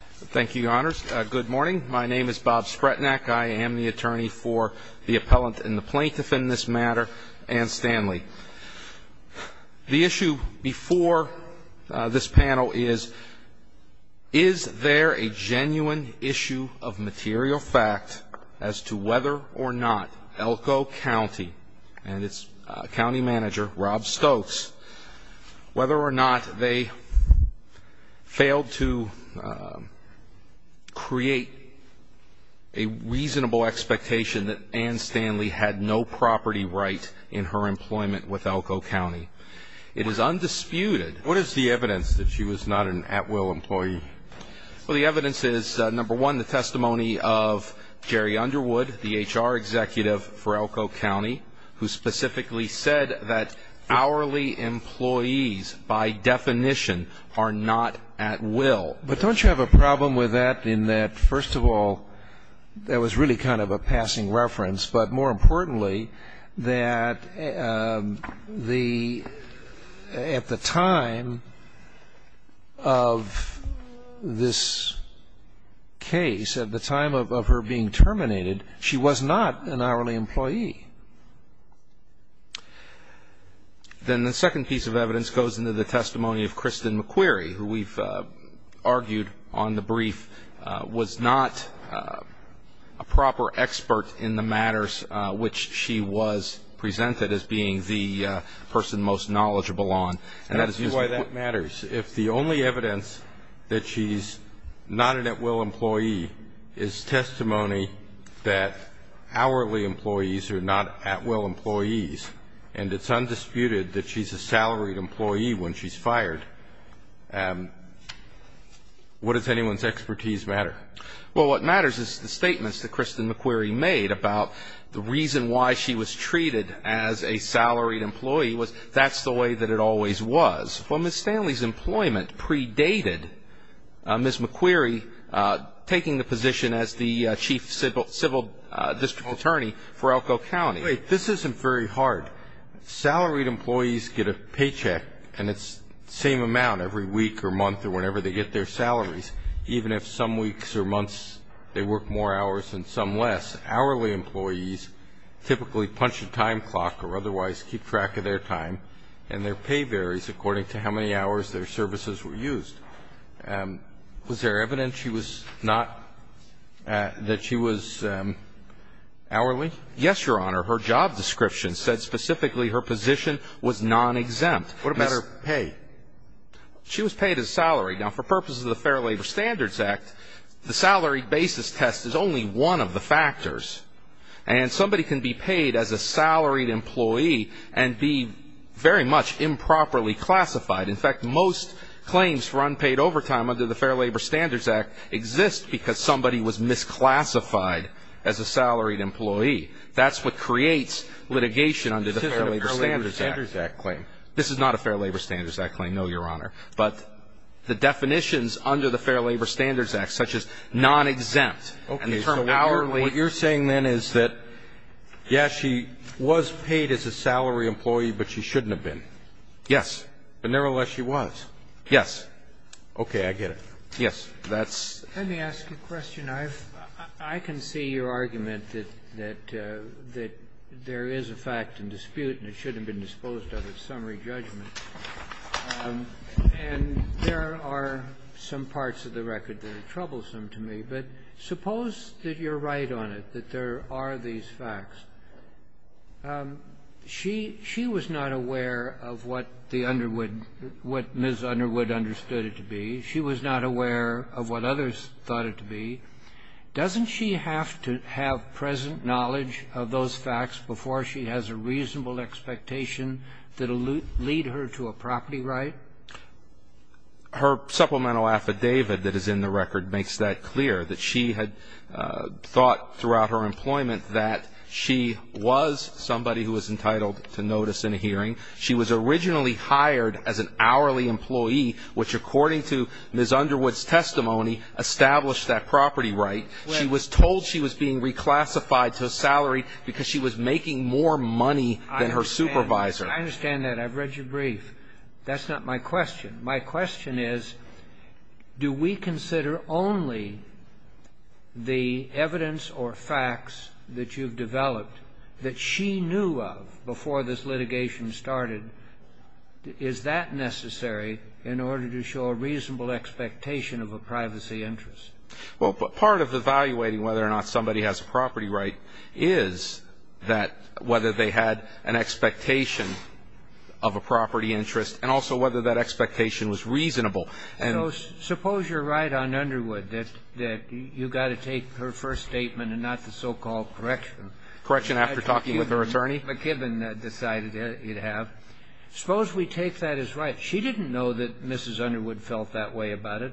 Thank you, your honors. Good morning. My name is Bob Spretnak. I am the attorney for the appellant and the plaintiff in this matter, Anne Standley. The issue before this panel is, is there a genuine issue of material fact as to whether or not Elko County and its county create a reasonable expectation that Anne Standley had no property right in her employment with Elko County. It is undisputed. What is the evidence that she was not an at-will employee? Well, the evidence is, number one, the testimony of Jerry Underwood, the HR executive for Elko County, who specifically said that hourly employees, by definition, are not at-will. But don't you have a problem with that in that, first of all, that was really kind of a passing reference, but more importantly, that the, at the time of this case, at the time of her being terminated, she was not an hourly employee? Then the second piece of evidence goes into the testimony of Kristen McQuarrie, who we've argued on the brief was not a proper expert in the matters which she was presented as being the person most knowledgeable on. And that is usually why that matters. If the only evidence that she's not an at-will employee is testimony that hourly employees are not at-will employees, and it's undisputed that she's a salaried employee when she's fired, what does anyone's expertise matter? Well, what matters is the statements that Kristen McQuarrie made about the reason why she was treated as a salaried employee was that's the way that it always was. Well, Ms. Stanley's employment predated Ms. McQuarrie taking the position as the chief civil district attorney for Elko County. This isn't very hard. Salaried employees get a paycheck, and it's the same amount every week or month or whenever they get their salaries, even if some weeks or months they work more hours and some less. Hourly employees typically punch a time clock or otherwise keep track of their time, and their pay varies according to how many hours their services were used. Was there evidence she was not, that she was hourly? Yes, Your Honor. Her job description said specifically her position was non-exempt. What about her pay? She was paid a salary. Now, for purposes of the Fair Labor Standards Act, the salary basis test is only one of the factors, and somebody can be paid as a salaried employee and be very much improperly classified. In fact, most claims for unpaid overtime under the Fair Labor Standards Act exist because somebody was misclassified as a salaried employee. That's what creates litigation under the Fair Labor Standards Act. This is not a Fair Labor Standards Act claim, no, Your Honor. But the definitions under the Fair Labor Standards Act, such as non-exempt and the term hourly. What you're saying then is that, yes, she was paid as a salary employee, but she shouldn't have been. Yes. But nevertheless, she was. Yes. Okay. I get it. Yes. That's. Let me ask you a question. I've – I can see your argument that there is a fact and dispute, and it shouldn't have been disposed of as summary judgment. And there are some parts of the record that are troublesome to me. But suppose that you're right on it, that there are these facts. She – she was not aware of what the Underwood – what Ms. Underwood understood it to be. She was not aware of what others thought it to be. Doesn't she have to have present knowledge of those facts before she has a reasonable expectation that will lead her to a property right? Her supplemental affidavit that is in the record makes that clear, that she had thought throughout her employment that she was somebody who was entitled to notice in a hearing. She was originally hired as an hourly employee, which, according to Ms. Underwood's testimony, established that property right. She was told she was being reclassified to a salary because she was making more money than her supervisor. I understand that. I've read your brief. That's not my question. My question is, do we consider only the evidence or facts that you've developed that she knew of before this litigation started? Is that necessary in order to show a reasonable expectation of a privacy interest? Well, part of evaluating whether or not somebody has a property right is that whether they had an expectation of a property interest and also whether that expectation was reasonable. So suppose you're right on Underwood that you've got to take her first statement and not the so-called correction. Correction after talking with her attorney. McKibbin decided you'd have. Suppose we take that as right. She didn't know that Mrs. Underwood felt that way about it,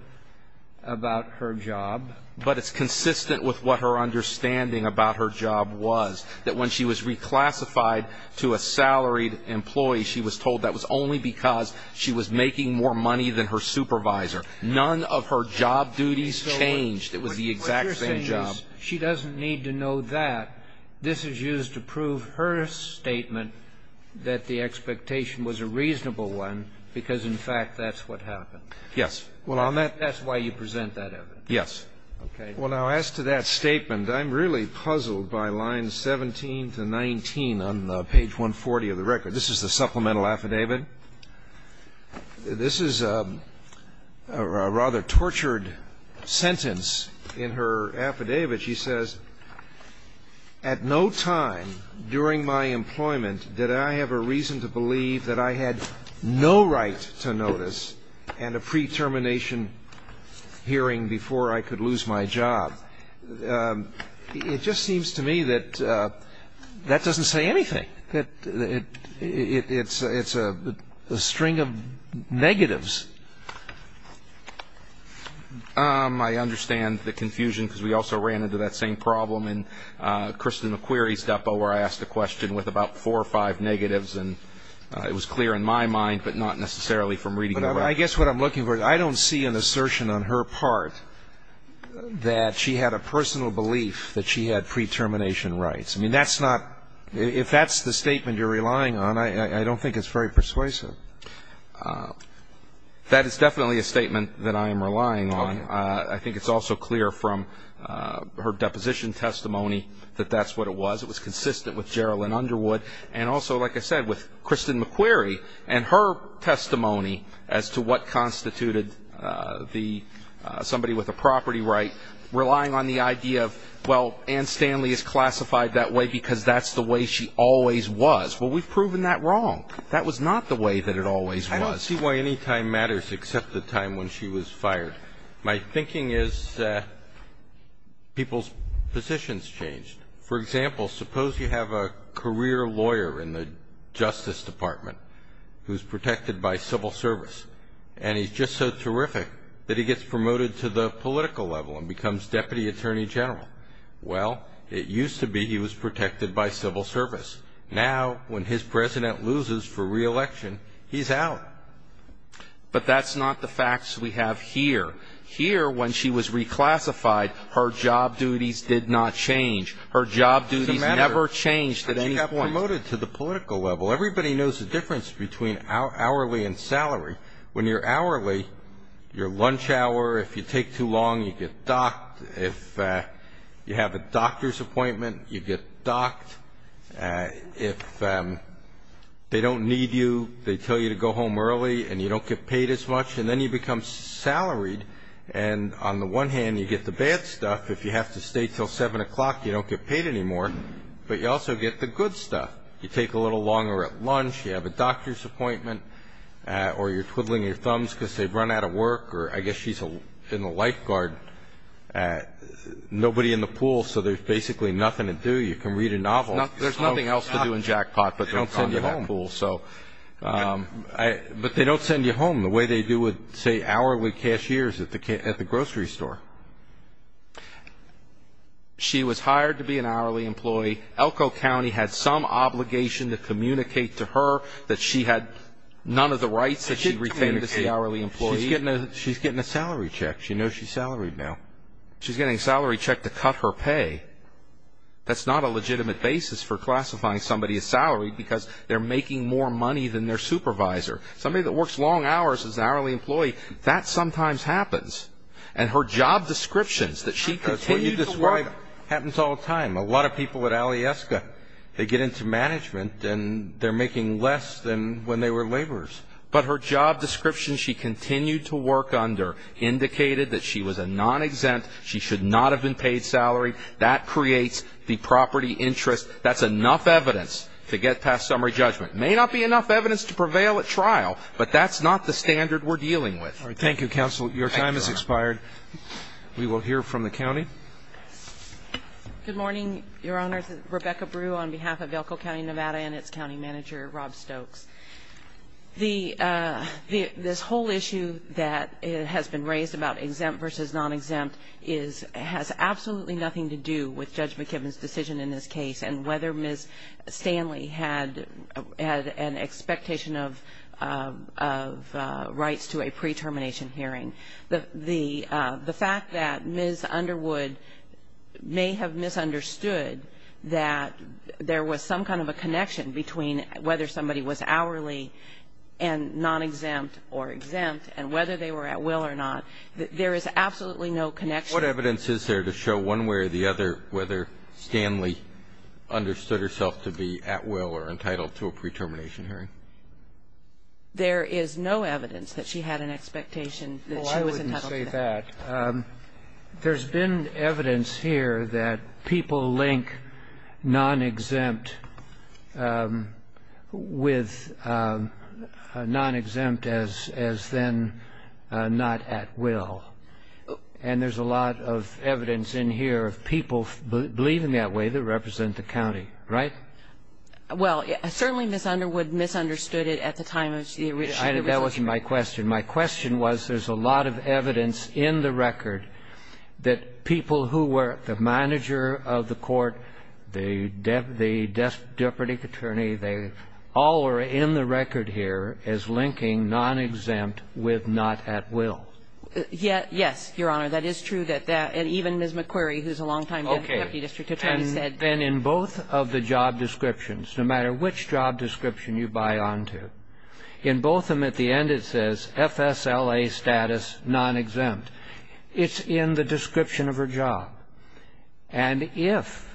about her job. But it's consistent with what her understanding about her job was, that when she was reclassified to a salaried employee, she was told that was only because she was making more money than her supervisor. None of her job duties changed. It was the exact same job. But you're saying she doesn't need to know that. This is used to prove her statement that the expectation was a reasonable one because, in fact, that's what happened. Yes. Well, on that ---- That's why you present that evidence. Yes. Okay. Well, now, as to that statement, I'm really puzzled by lines 17 to 19 on page 140 of the record. This is the supplemental affidavit. This is a rather tortured sentence in her affidavit. She says, at no time during my employment did I have a reason to believe that I had no right to notice and a pre-termination hearing before I could lose my job. It just seems to me that that doesn't say anything, that it's a string of negatives. I understand the confusion because we also ran into that same problem in Kristen McQueary's case. We talked about four or five negatives, and it was clear in my mind, but not necessarily from reading the record. But I guess what I'm looking for is I don't see an assertion on her part that she had a personal belief that she had pre-termination rights. I mean, that's not ---- if that's the statement you're relying on, I don't think it's very persuasive. That is definitely a statement that I am relying on. Okay. I think it's also clear from her deposition testimony that that's what it was. It was also, like I said, with Kristen McQueary and her testimony as to what constituted the somebody with a property right, relying on the idea of, well, Ann Stanley is classified that way because that's the way she always was. Well, we've proven that wrong. That was not the way that it always was. I don't see why any time matters except the time when she was fired. My thinking is people's positions changed. For example, suppose you have a career lawyer in the Justice Department who's protected by civil service, and he's just so terrific that he gets promoted to the political level and becomes Deputy Attorney General. Well, it used to be he was protected by civil service. Now, when his president loses for re-election, he's out. But that's not the facts we have here. Here, when she was reclassified, her job duties did not change. Her job duties never changed at any point. She got promoted to the political level. Everybody knows the difference between hourly and salary. When you're hourly, your lunch hour, if you take too long, you get docked. If you have a doctor's appointment, you get docked. If they don't need you, they tell you to go home early and you don't get paid as much, and then you become salaried. And on the one hand, you get the bad stuff. If you have to stay until 7 o'clock, you don't get paid anymore. But you also get the good stuff. You take a little longer at lunch. You have a doctor's appointment, or you're twiddling your thumbs because they've run out of work, or I guess she's in the lifeguard. Nobody in the pool, so there's basically nothing to do. You can read a novel. There's nothing else to do in jackpot, but they don't send you home. But they don't send you home the way they do with, say, hourly cashiers at the grocery store. She was hired to be an hourly employee. Elko County had some obligation to communicate to her that she had none of the rights that she retained as the hourly employee. She's getting a salary check. She knows she's salaried now. She's getting a salary check to cut her pay. That's not a legitimate basis for classifying somebody as salaried because they're making more money than their supervisor. Somebody that works long hours as an hourly employee, that sometimes happens. And her job descriptions that she continued to work under indicated that she was a non-exempt. She should not have been paid salary. That creates the property interest. That's enough evidence to get past that. But that's not the standard we're dealing with. All right. Thank you, counsel. Your time has expired. We will hear from the county. Good morning, Your Honors. Rebecca Brew on behalf of Elko County, Nevada, and its county manager, Rob Stokes. This whole issue that has been raised about exempt versus non-exempt has absolutely nothing to do with Judge McKibben's decision in this case and whether Ms. Stanley had an expectation of rights to a pre-termination hearing. The fact that Ms. Underwood may have misunderstood that there was some kind of a connection between whether somebody was hourly and non-exempt or exempt and whether they were at will or not, there is absolutely no connection. What evidence is there to show one way or the other whether Stanley understood herself to be at will or entitled to a pre-termination hearing? There is no evidence that she had an expectation that she was entitled to that. Well, I wouldn't say that. There's been evidence here that people link non-exempt with non-exempt as then not at will. And there's a lot of evidence in here of people believing that way that represent the county, right? Well, certainly Ms. Underwood misunderstood it at the time of the resolution. That wasn't my question. My question was there's a lot of evidence in the record that people who were the manager of the court, the deputy attorney, they all were in the record here as linking non-exempt with not at will. Yes, Your Honor. That is true that that, and even Ms. McQuarrie, who's a long-time deputy district attorney. And in both of the job descriptions, no matter which job description you buy onto, in both of them at the end it says FSLA status non-exempt. It's in the description of her job. And if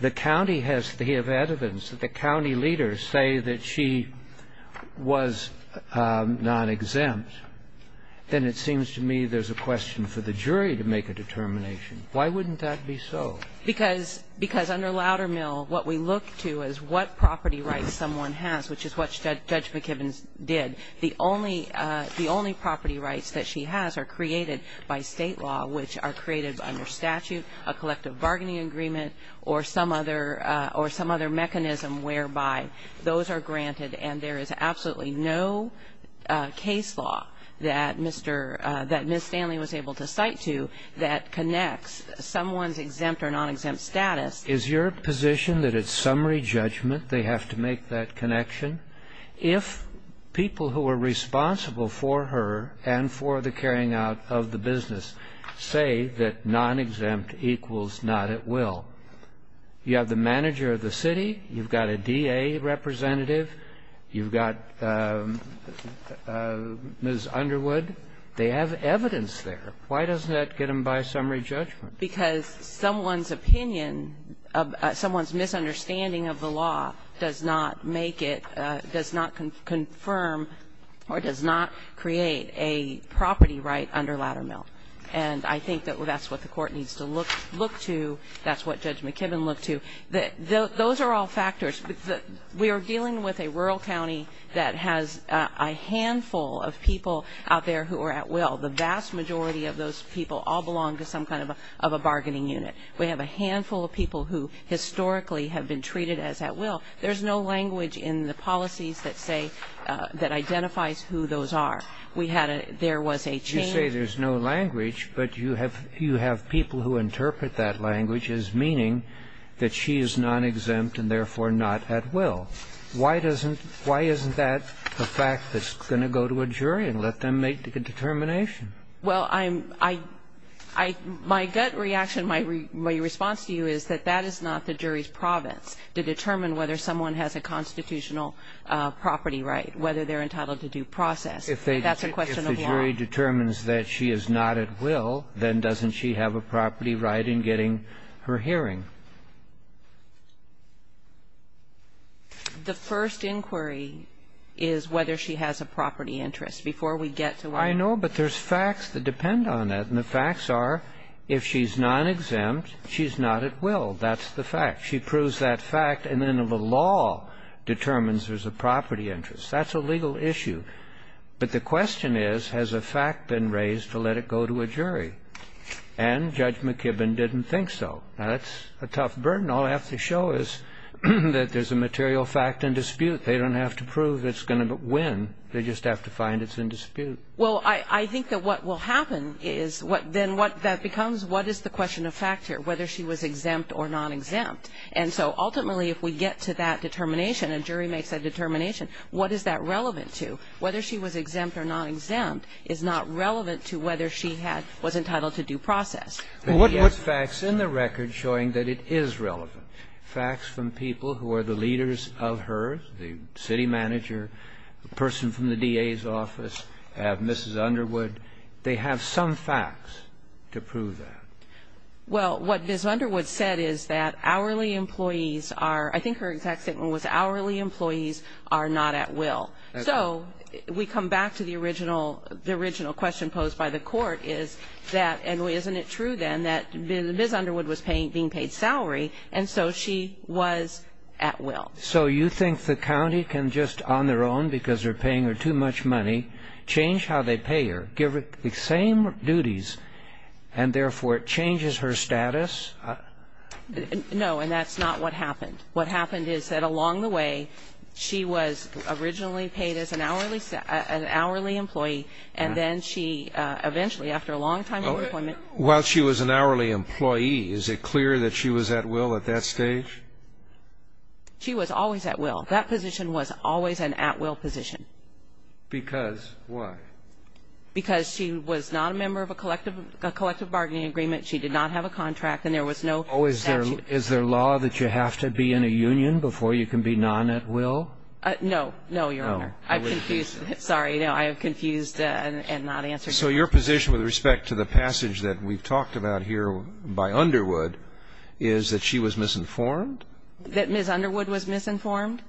the county has evidence that the county leaders say that she was non-exempt, then it seems to me there's a question for the jury to make a determination. Why wouldn't that be so? Because under Loudermill, what we look to is what property rights someone has, which is what Judge McKibben did. The only property rights that she has are created by state law, which are created under statute, a collective bargaining agreement, or some other mechanism whereby those are granted. And there is absolutely no case law that Ms. Stanley was able to cite to that connects someone's exempt or non-exempt status. Is your position that it's summary judgment they have to make that connection? If people who are responsible for her and for the carrying out of the business say that non-exempt equals not at will, you have the manager of the city, you've got a DA representative, you've got Ms. Underwood, they have evidence there. Why doesn't that get them by summary judgment? Because someone's opinion, someone's misunderstanding of the law does not make it, does not confirm or does not create a property right under Loudermill. And I think that that's what the court needs to look to, that's what Judge McKibben looked to. Those are all factors. We are dealing with a rural county that has a handful of people out there who are at will. The vast majority of those people all belong to some kind of a bargaining unit. We have a handful of people who historically have been treated as at will. There's no language in the policies that say, that identifies who those are. We had a, there was a change. You say there's no language, but you have people who interpret that language as meaning that she is non-exempt and therefore not at will. Why doesn't, why isn't that a fact that's going to go to a jury and let them make the determination? Well, I'm, I, my gut reaction, my response to you is that that is not the jury's province to determine whether someone has a constitutional property right, whether they're entitled to due process. That's a question of law. If the jury determines that she is not at will, then doesn't she have a property right in getting her hearing? The first inquiry is whether she has a property interest before we get to our next question. I know, but there's facts that depend on that. And the facts are, if she's non-exempt, she's not at will. That's the fact. She proves that fact, and then the law determines there's a property interest. That's a legal issue. But the question is, has a fact been raised to let it go to a jury? And Judge McKibbin didn't think so. Now, that's a tough burden. All I have to show is that there's a material fact in dispute. They don't have to prove it's going to win. They just have to find it's in dispute. Well, I, I think that what will happen is what then what that becomes, what is the question of fact here, whether she was exempt or non-exempt? And so ultimately, if we get to that determination and jury makes that determination, what is that relevant to? Whether she was exempt or non-exempt is not relevant to whether she had, was entitled to due process. Well, what, what facts in the record showing that it is relevant? Facts from people who are the leaders of hers, the city manager, a person from the DA's office, Mrs. Underwood? They have some facts to prove that. Well, what Ms. Underwood said is that hourly employees are, I think her exact statement was hourly employees are not at will. So, we come back to the original, the original question posed by the court is that, and isn't it true then that Ms. Underwood was paying, being paid salary, and so she was at will. So, you think the county can just on their own, because they're paying her too much money, change how they pay her, give her the same duties, and therefore it changes her status? No, and that's not what happened. What happened is that along the way, she was originally paid as an hourly employee, and then she eventually, after a long time of employment. While she was an hourly employee, is it clear that she was at will at that stage? She was always at will. That position was always an at will position. Because why? Because she was not a member of a collective bargaining agreement, she did not have a contract, and there was no statute. Oh, is there law that you have to be in a union before you can be non-at will? No, no, Your Honor. Oh. I've confused, sorry, no, I have confused and not answered your question. So, your position with respect to the passage that we've talked about here by Underwood is that she was misinformed? That Ms. Underwood was misinformed?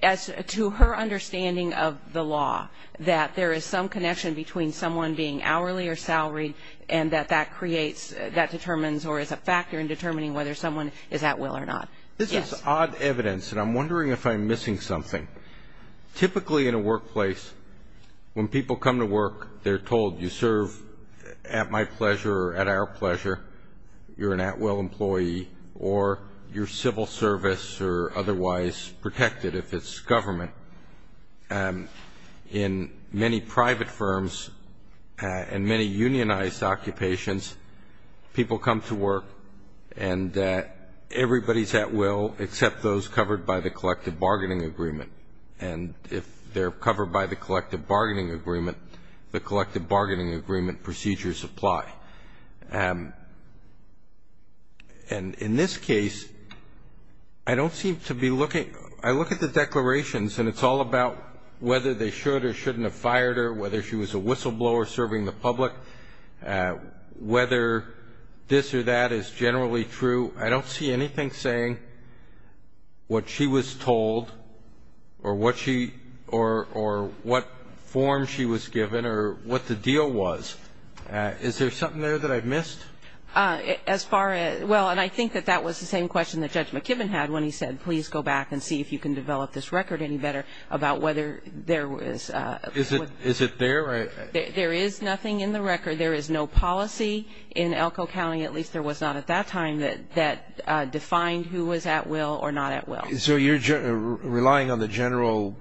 As to her understanding of the law, that there is some connection between someone being hourly or salaried, and that that creates, that determines, or is a factor in determining whether someone is at will or not. This is odd evidence, and I'm wondering if I'm missing something. Typically in a workplace, when people come to work, they're told, you serve at my pleasure or at our pleasure, you're an at will employee, or you're civil service or otherwise protected if it's government. In many private firms and many unionized occupations, people come to work and everybody's at will except those covered by the collective bargaining agreement. And if they're covered by the collective bargaining agreement, the collective bargaining agreement procedures apply. And in this case, I don't seem to be looking, I look at the declarations and it's all about whether they should or shouldn't have fired her, whether she was a whistleblower serving the public, whether this or that is generally true. I don't see anything saying what she was told or what she, or what form she was given or what the deal was. Is there something there that I've missed? As far as, well, and I think that that was the same question that Judge McKibben had when he said, please go back and see if you can develop this record any better about whether there was. Is it there? There is nothing in the record. There is no policy in Elko County, at least there was not at that time, that defined who was at will or not at will. So you're relying on the general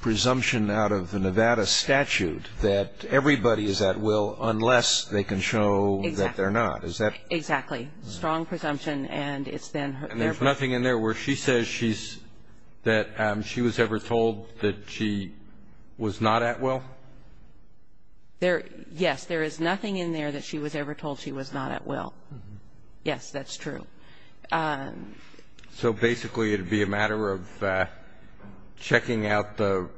presumption out of the Nevada statute that everybody is at will unless they can show that they're not. Exactly. Strong presumption. And there's nothing in there where she says that she was ever told that she was not at will? Yes, there is nothing in there that she was ever told she was not at will. Yes, that's true. So basically it would be a matter of checking out the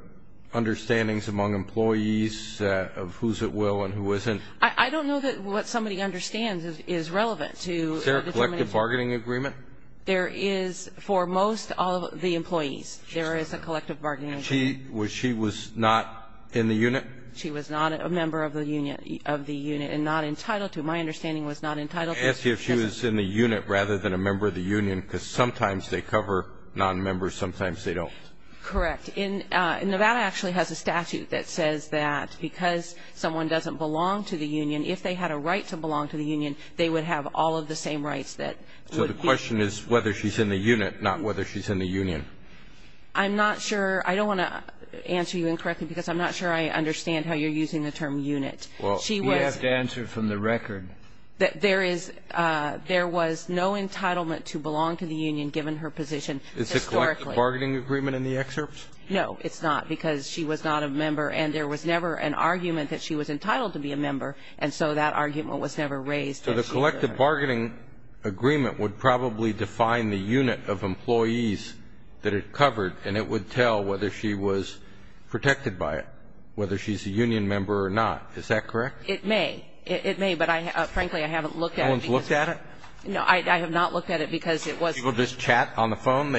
understandings among employees of who's at will and who isn't. I don't know that what somebody understands is relevant to determination. Is there a collective bargaining agreement? There is for most of the employees. There is a collective bargaining agreement. She was not in the unit? She was not a member of the unit and not entitled to it. My understanding was not entitled to it. I asked you if she was in the unit rather than a member of the union because sometimes they cover non-members, sometimes they don't. Correct. Nevada actually has a statute that says that because someone doesn't belong to the union, if they had a right to belong to the union, they would have all of the same rights that would be. So the question is whether she's in the unit, not whether she's in the union. I'm not sure. I don't want to answer you incorrectly because I'm not sure I understand how you're using the term unit. Well, you have to answer from the record. There was no entitlement to belong to the union given her position historically. Is there a collective bargaining agreement in the excerpt? No, it's not because she was not a member and there was never an argument that she was entitled to be a member and so that argument was never raised. So the collective bargaining agreement would probably define the unit of employees that it covered and it would tell whether she was protected by it, whether she's a union member or not. Is that correct? It may. It may, but frankly I haven't looked at it. No one's looked at it? No, I have not looked at it because it was. People just chat on the phone?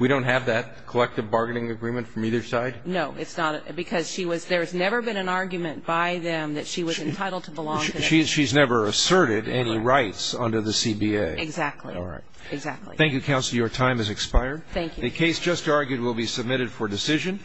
We don't have that collective bargaining agreement from either side? No, it's not because there's never been an argument by them that she was entitled to belong to the union. She's never asserted any rights under the CBA? Exactly. All right. Exactly. Thank you, counsel. Your time has expired. Thank you. The case just argued will be submitted for decision.